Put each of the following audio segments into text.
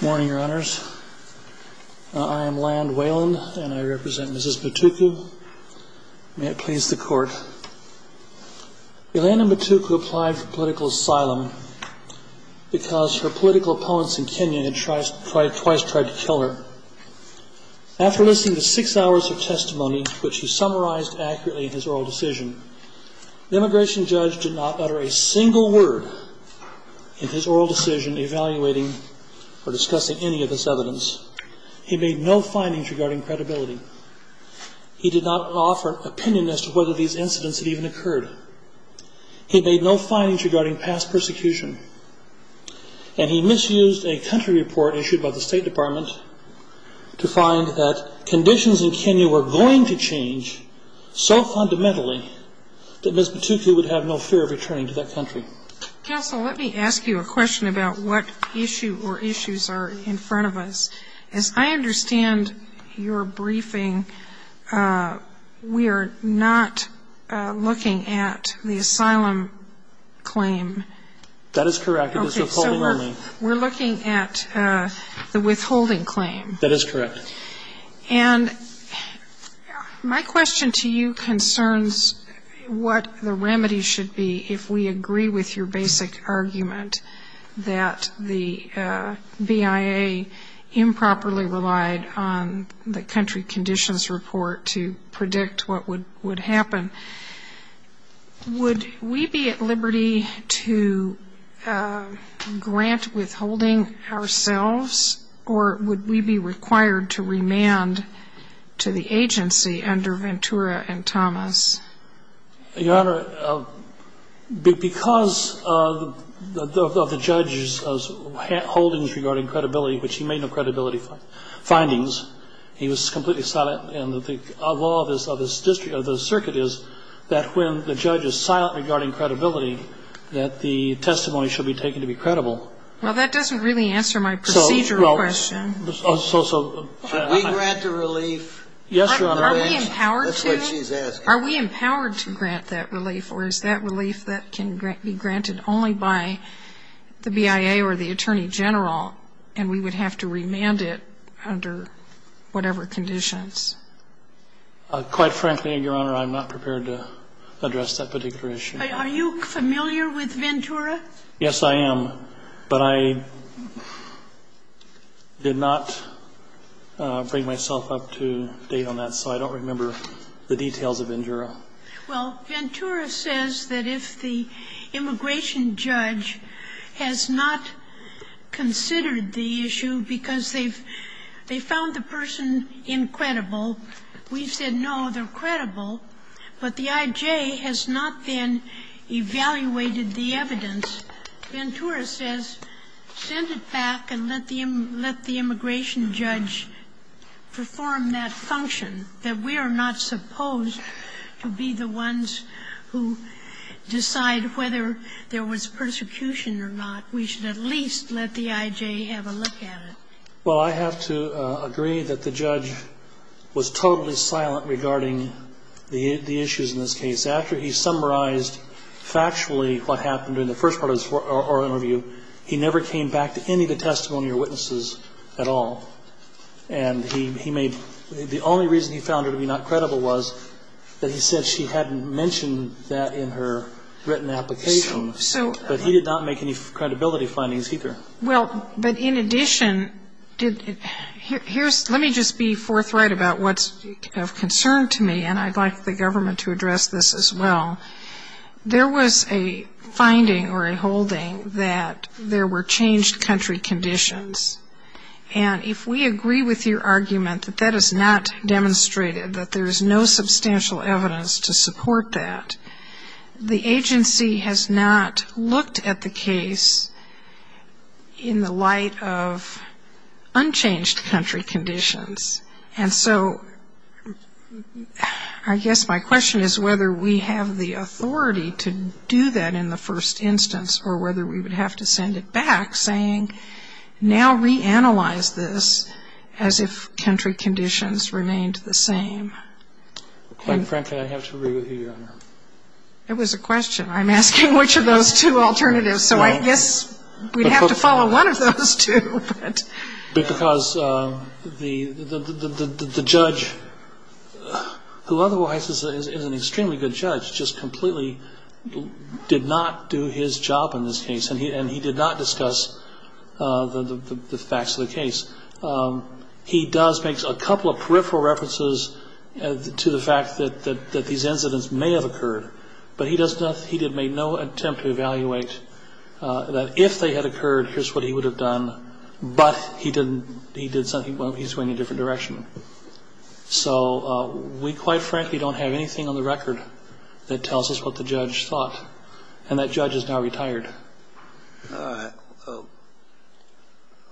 Good morning, your honors. I am Land Weyland and I represent Mrs. Mutuku. May it please the court. Yolanda Mutuku applied for political asylum because her political opponents in Kenya had twice tried to kill her. After listening to six hours of testimony, which he summarized accurately in his oral decision, the immigration judge did not utter a single word in his oral decision evaluating or discussing any of this evidence. He made no findings regarding credibility. He did not offer an opinion as to whether these incidents had even occurred. He made no findings regarding past persecution. And he misused a country report issued by the State Department to find that conditions in Kenya were going to change so fundamentally that Mrs. Mutuku would have no fear of returning to that country. Counsel, let me ask you a question about what issue or issues are in front of us. As I understand your briefing, we are not looking at the asylum claim. That is correct. It is withholding only. We're looking at the withholding claim. That is correct. And my question to you concerns what the remedy should be if we agree with your basic argument that the BIA improperly relied on the country conditions report to predict what would happen. Would we be at liberty to grant withholding ourselves, or would we be required to remand to the agency under Ventura and Thomas? Your Honor, because of the judge's holdings regarding credibility, which he made no credibility findings, he was completely silent. And the law of the circuit is that when the judge is silent regarding credibility, that the testimony should be taken to be credible. Well, that doesn't really answer my procedural question. Should we grant the relief? Yes, Your Honor. Are we empowered to? That's what she's asking. Are we empowered to grant that relief, or is that relief that can be granted only by the BIA or the Attorney General, and we would have to remand it under whatever conditions? Quite frankly, Your Honor, I'm not prepared to address that particular issue. Are you familiar with Ventura? Yes, I am. But I did not bring myself up to date on that, so I don't remember the details of Ventura. Well, Ventura says that if the immigration judge has not considered the issue because they've found the person incredible, we've said, no, they're credible, but the I.J. has not then evaluated the evidence, Ventura says, send it back and let the immigration judge perform that function, that we are not supposed to be the ones who decide whether there was persecution or not. We should at least let the I.J. have a look at it. Well, I have to agree that the judge was totally silent regarding the issues in this case. After he summarized factually what happened in the first part of our interview, he never came back to any of the testimony or witnesses at all. And he made the only reason he found her to be not credible was that he said she hadn't mentioned that in her written application. But he did not make any credibility findings either. Well, but in addition, let me just be forthright about what's of concern to me, and I'd like the government to address this as well. There was a finding or a holding that there were changed country conditions. And if we agree with your argument that that is not demonstrated, that there is no substantial evidence to support that, the agency has not looked at the case in the light of unchanged country conditions. And so I guess my question is whether we have the authority to do that in the first instance or whether we would have to send it back saying, now reanalyze this as if country conditions remained the same. Frank, can I have to agree with you on that? It was a question. I'm asking which of those two alternatives. So I guess we'd have to follow one of those two. Because the judge, who otherwise is an extremely good judge, just completely did not do his job in this case, and he did not discuss the facts of the case. He does make a couple of peripheral references to the fact that these incidents may have occurred, but he did make no attempt to evaluate that if they had But he did something, he's going in a different direction. So we quite frankly don't have anything on the record that tells us what the judge thought, and that judge is now retired. All right. I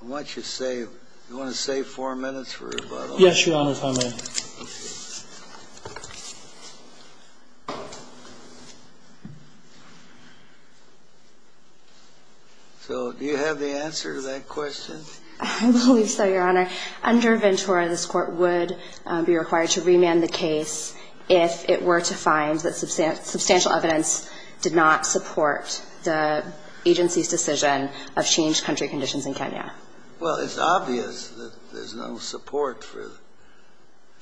want you to save, you want to save four minutes for rebuttal? Yes, Your Honor, if I may. So do you have the answer to that question? I believe so, Your Honor. Under Ventura, this Court would be required to remand the case if it were to find that substantial evidence did not support the agency's decision of changed country conditions in Kenya. Well, it's obvious that there's no support for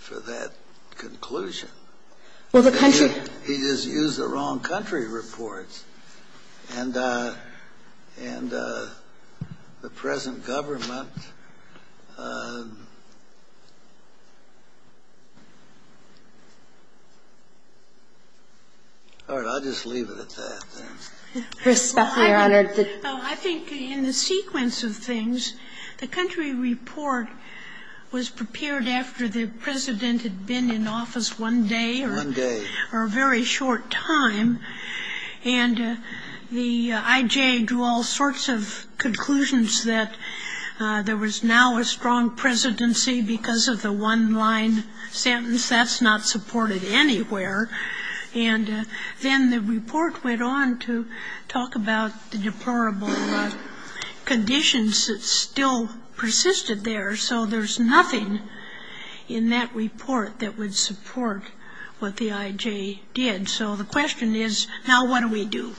that conclusion. Well, the country He just used the wrong country reports. And the present government All right. I'll just leave it at that. I think in the sequence of things, the country report was prepared after the President had been in office one day or a very short time, and the IJ drew all sorts of conclusions that there was now a strong presidency because of the one-line sentence. That's not supported anywhere. And then the report went on to talk about the deplorable conditions that still persisted there, so there's nothing in that report that would support what the IJ did. So the question is, now what do we do?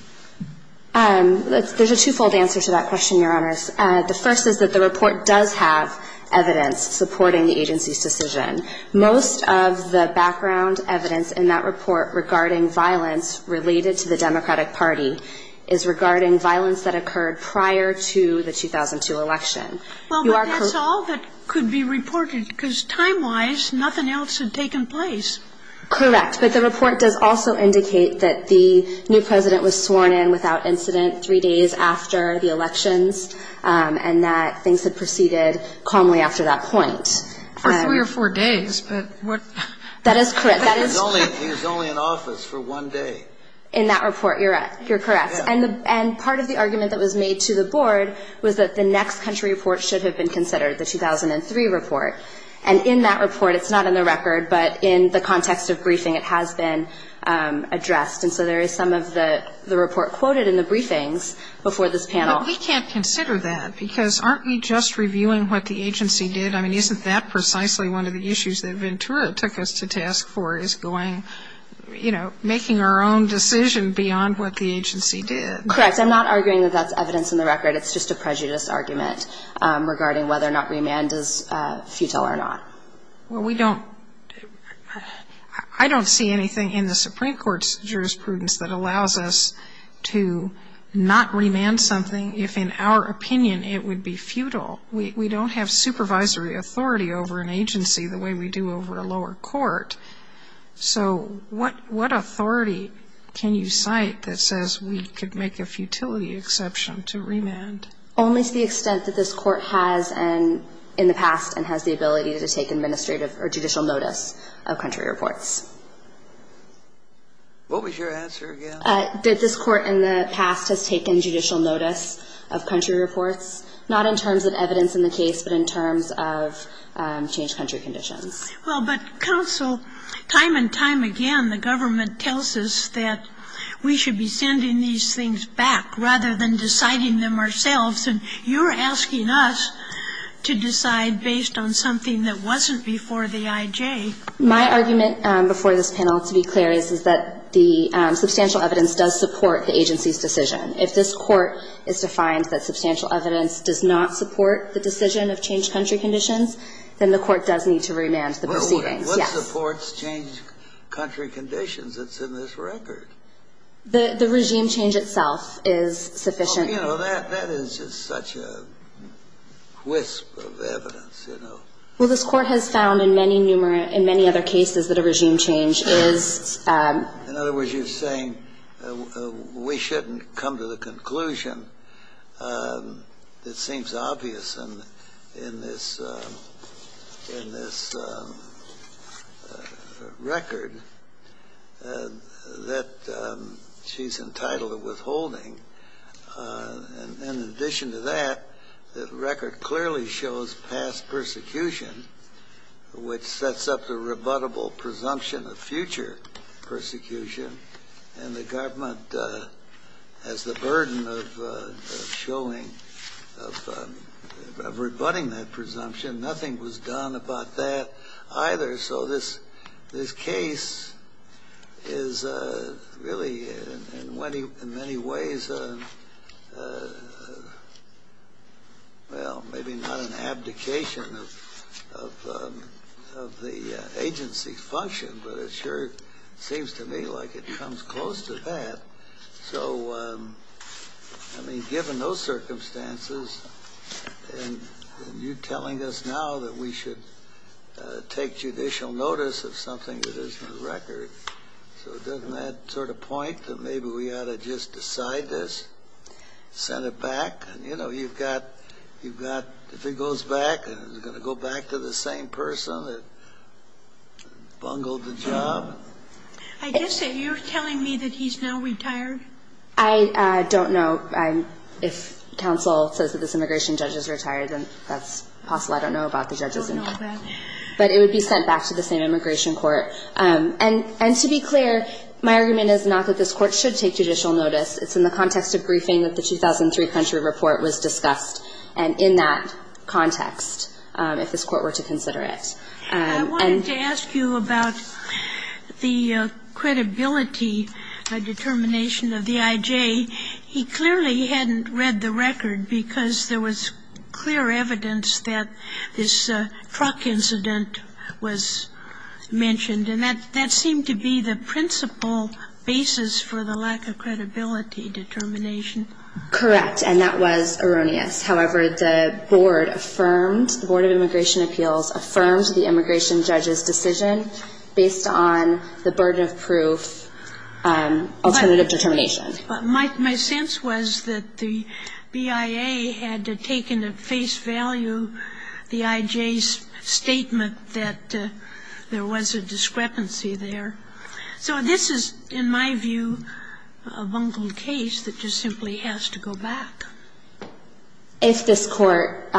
There's a twofold answer to that question, Your Honors. The first is that the report does have evidence supporting the agency's decision. Most of the background evidence in that report regarding violence related to the Democratic Party is regarding violence that occurred prior to the 2002 election. Well, but that's all that could be reported, because time-wise, nothing else had taken place. Correct. But the report does also indicate that the new President was sworn in without incident three days after the elections, and that things had proceeded calmly after that point. For three or four days, but what? That is correct. That is correct. He was only in office for one day. In that report, you're correct. And part of the argument that was made to the Board was that the next country report should have been considered, the 2003 report. And in that report, it's not in the record, but in the context of briefing, it has been addressed. And so there is some of the report quoted in the briefings before this panel. But we can't consider that, because aren't we just reviewing what the agency did? I mean, isn't that precisely one of the issues that Ventura took us to task for is going, you know, making our own decision beyond what the agency did? Correct. I'm not arguing that that's evidence in the record. It's just a prejudice argument regarding whether or not remand is futile or not. Well, we don't – I don't see anything in the Supreme Court's jurisprudence that allows us to not remand something if, in our opinion, it would be futile. We don't have supervisory authority over an agency the way we do over a lower court. So what authority can you cite that says we could make a futility exception to remand? Only to the extent that this Court has in the past and has the ability to take administrative or judicial notice of country reports. What was your answer again? That this Court in the past has taken judicial notice of country reports, not in terms of evidence in the case, but in terms of changed country conditions. Well, but, counsel, time and time again, the government tells us that we should be sending these things back rather than deciding them ourselves. And you're asking us to decide based on something that wasn't before the I.J. My argument before this panel, to be clear, is that the substantial evidence does support the agency's decision. If this Court is defined that substantial evidence does not support the decision of changed country conditions, then the Court does need to remand the proceedings. Yes. Well, what supports changed country conditions that's in this record? The regime change itself is sufficient. Well, you know, that is just such a wisp of evidence, you know. Well, this Court has found in many numerous – in many other cases that a regime change is – In other words, you're saying we shouldn't come to the conclusion that seems obvious in this – in this record that she's entitled to withholding. And in addition to that, the record clearly shows past persecution, which sets up the And the government has the burden of showing – of rebutting that presumption. Nothing was done about that either. So this case is really in many ways a – well, maybe not an abdication of the agency's to me like it comes close to that. So, I mean, given those circumstances, and you're telling us now that we should take judicial notice of something that is in the record. So doesn't that sort of point that maybe we ought to just decide this, send it back? You know, you've got – you've got – if it goes back, is it going to go back to the same person that bungled the job? I guess that you're telling me that he's now retired? I don't know. If counsel says that this immigration judge is retired, then that's possible. I don't know about the judge's income. I don't know about that. But it would be sent back to the same immigration court. And to be clear, my argument is not that this Court should take judicial notice. It's in the context of briefing that the 2003 Country Report was discussed, and in that context, if this Court were to consider it. I wanted to ask you about the credibility determination of the I.J. He clearly hadn't read the record because there was clear evidence that this truck incident was mentioned. And that seemed to be the principal basis for the lack of credibility determination. Correct. And that was erroneous. However, the board affirmed, the Board of Immigration Appeals affirmed the immigration judge's decision based on the burden of proof alternative determination. My sense was that the BIA had taken at face value the I.J.'s statement that there was a discrepancy there. So this is, in my view, a bungled case that just simply has to go back. If this Court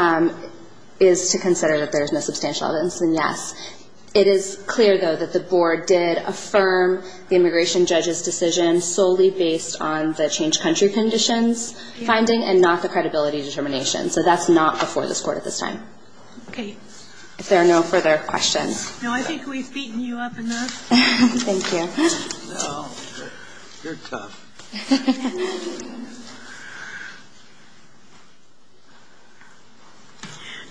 is to consider that there is no substantial evidence, then yes. It is clear, though, that the board did affirm the immigration judge's decision solely based on the changed country conditions finding and not the credibility determination. So that's not before this Court at this time. Okay. If there are no further questions. No, I think we've beaten you up enough. Thank you. No, you're tough.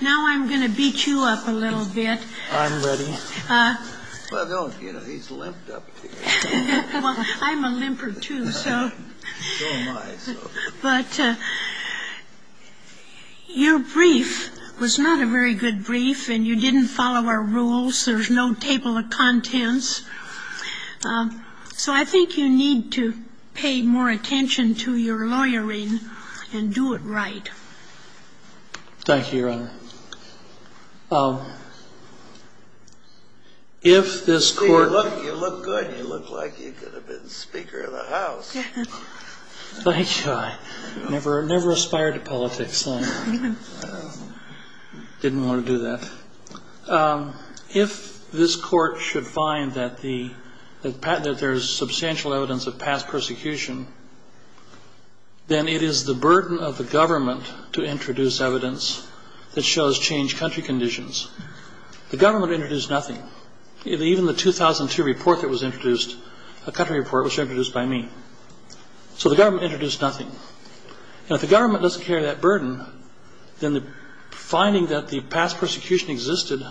Now I'm going to beat you up a little bit. I'm ready. Well, don't, you know, he's limped up to you. Well, I'm a limper, too, so. So am I, so. But your brief was not a very good brief, and you didn't follow our rules. There's no table of contents. So I think you need to pay more attention to your lawyering and do it right. Thank you, Your Honor. If this Court. You look good. You look like you could have been Speaker of the House. Thank you. I never aspired to politics. I didn't want to do that. If this Court should find that there's substantial evidence of past persecution, then it is the burden of the government to introduce evidence that shows changed country conditions. The government introduced nothing. Even the 2002 report that was introduced, a country report, was introduced by me. So the government introduced nothing. And if the government doesn't carry that burden, then the finding that the past persecution existed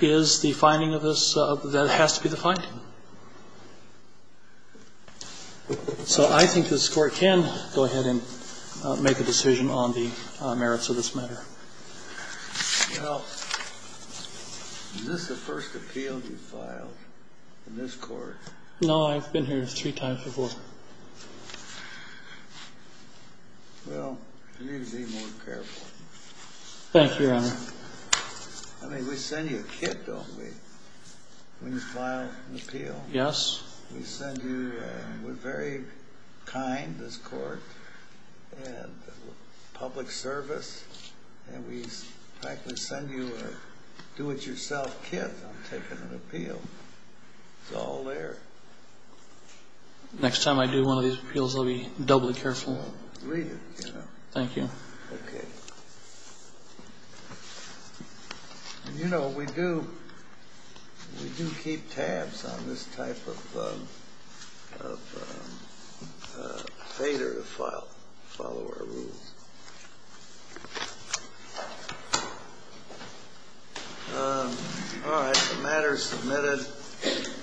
is the finding of this, that has to be the finding. So I think this Court can go ahead and make a decision on the merits of this matter. Well, is this the first appeal you've filed in this Court? No, I've been here three times before. Well, you need to be more careful. Thank you, Your Honor. I mean, we send you a kit, don't we, when you file an appeal? Yes. We send you, we're very kind, this Court, and public service, and we practically send you a do-it-yourself kit on taking an appeal. It's all there. Next time I do one of these appeals, I'll be doubly careful. Read it, you know. Thank you. Okay. And, you know, we do keep tabs on this type of failure to follow our rules. All right. The matter is submitted.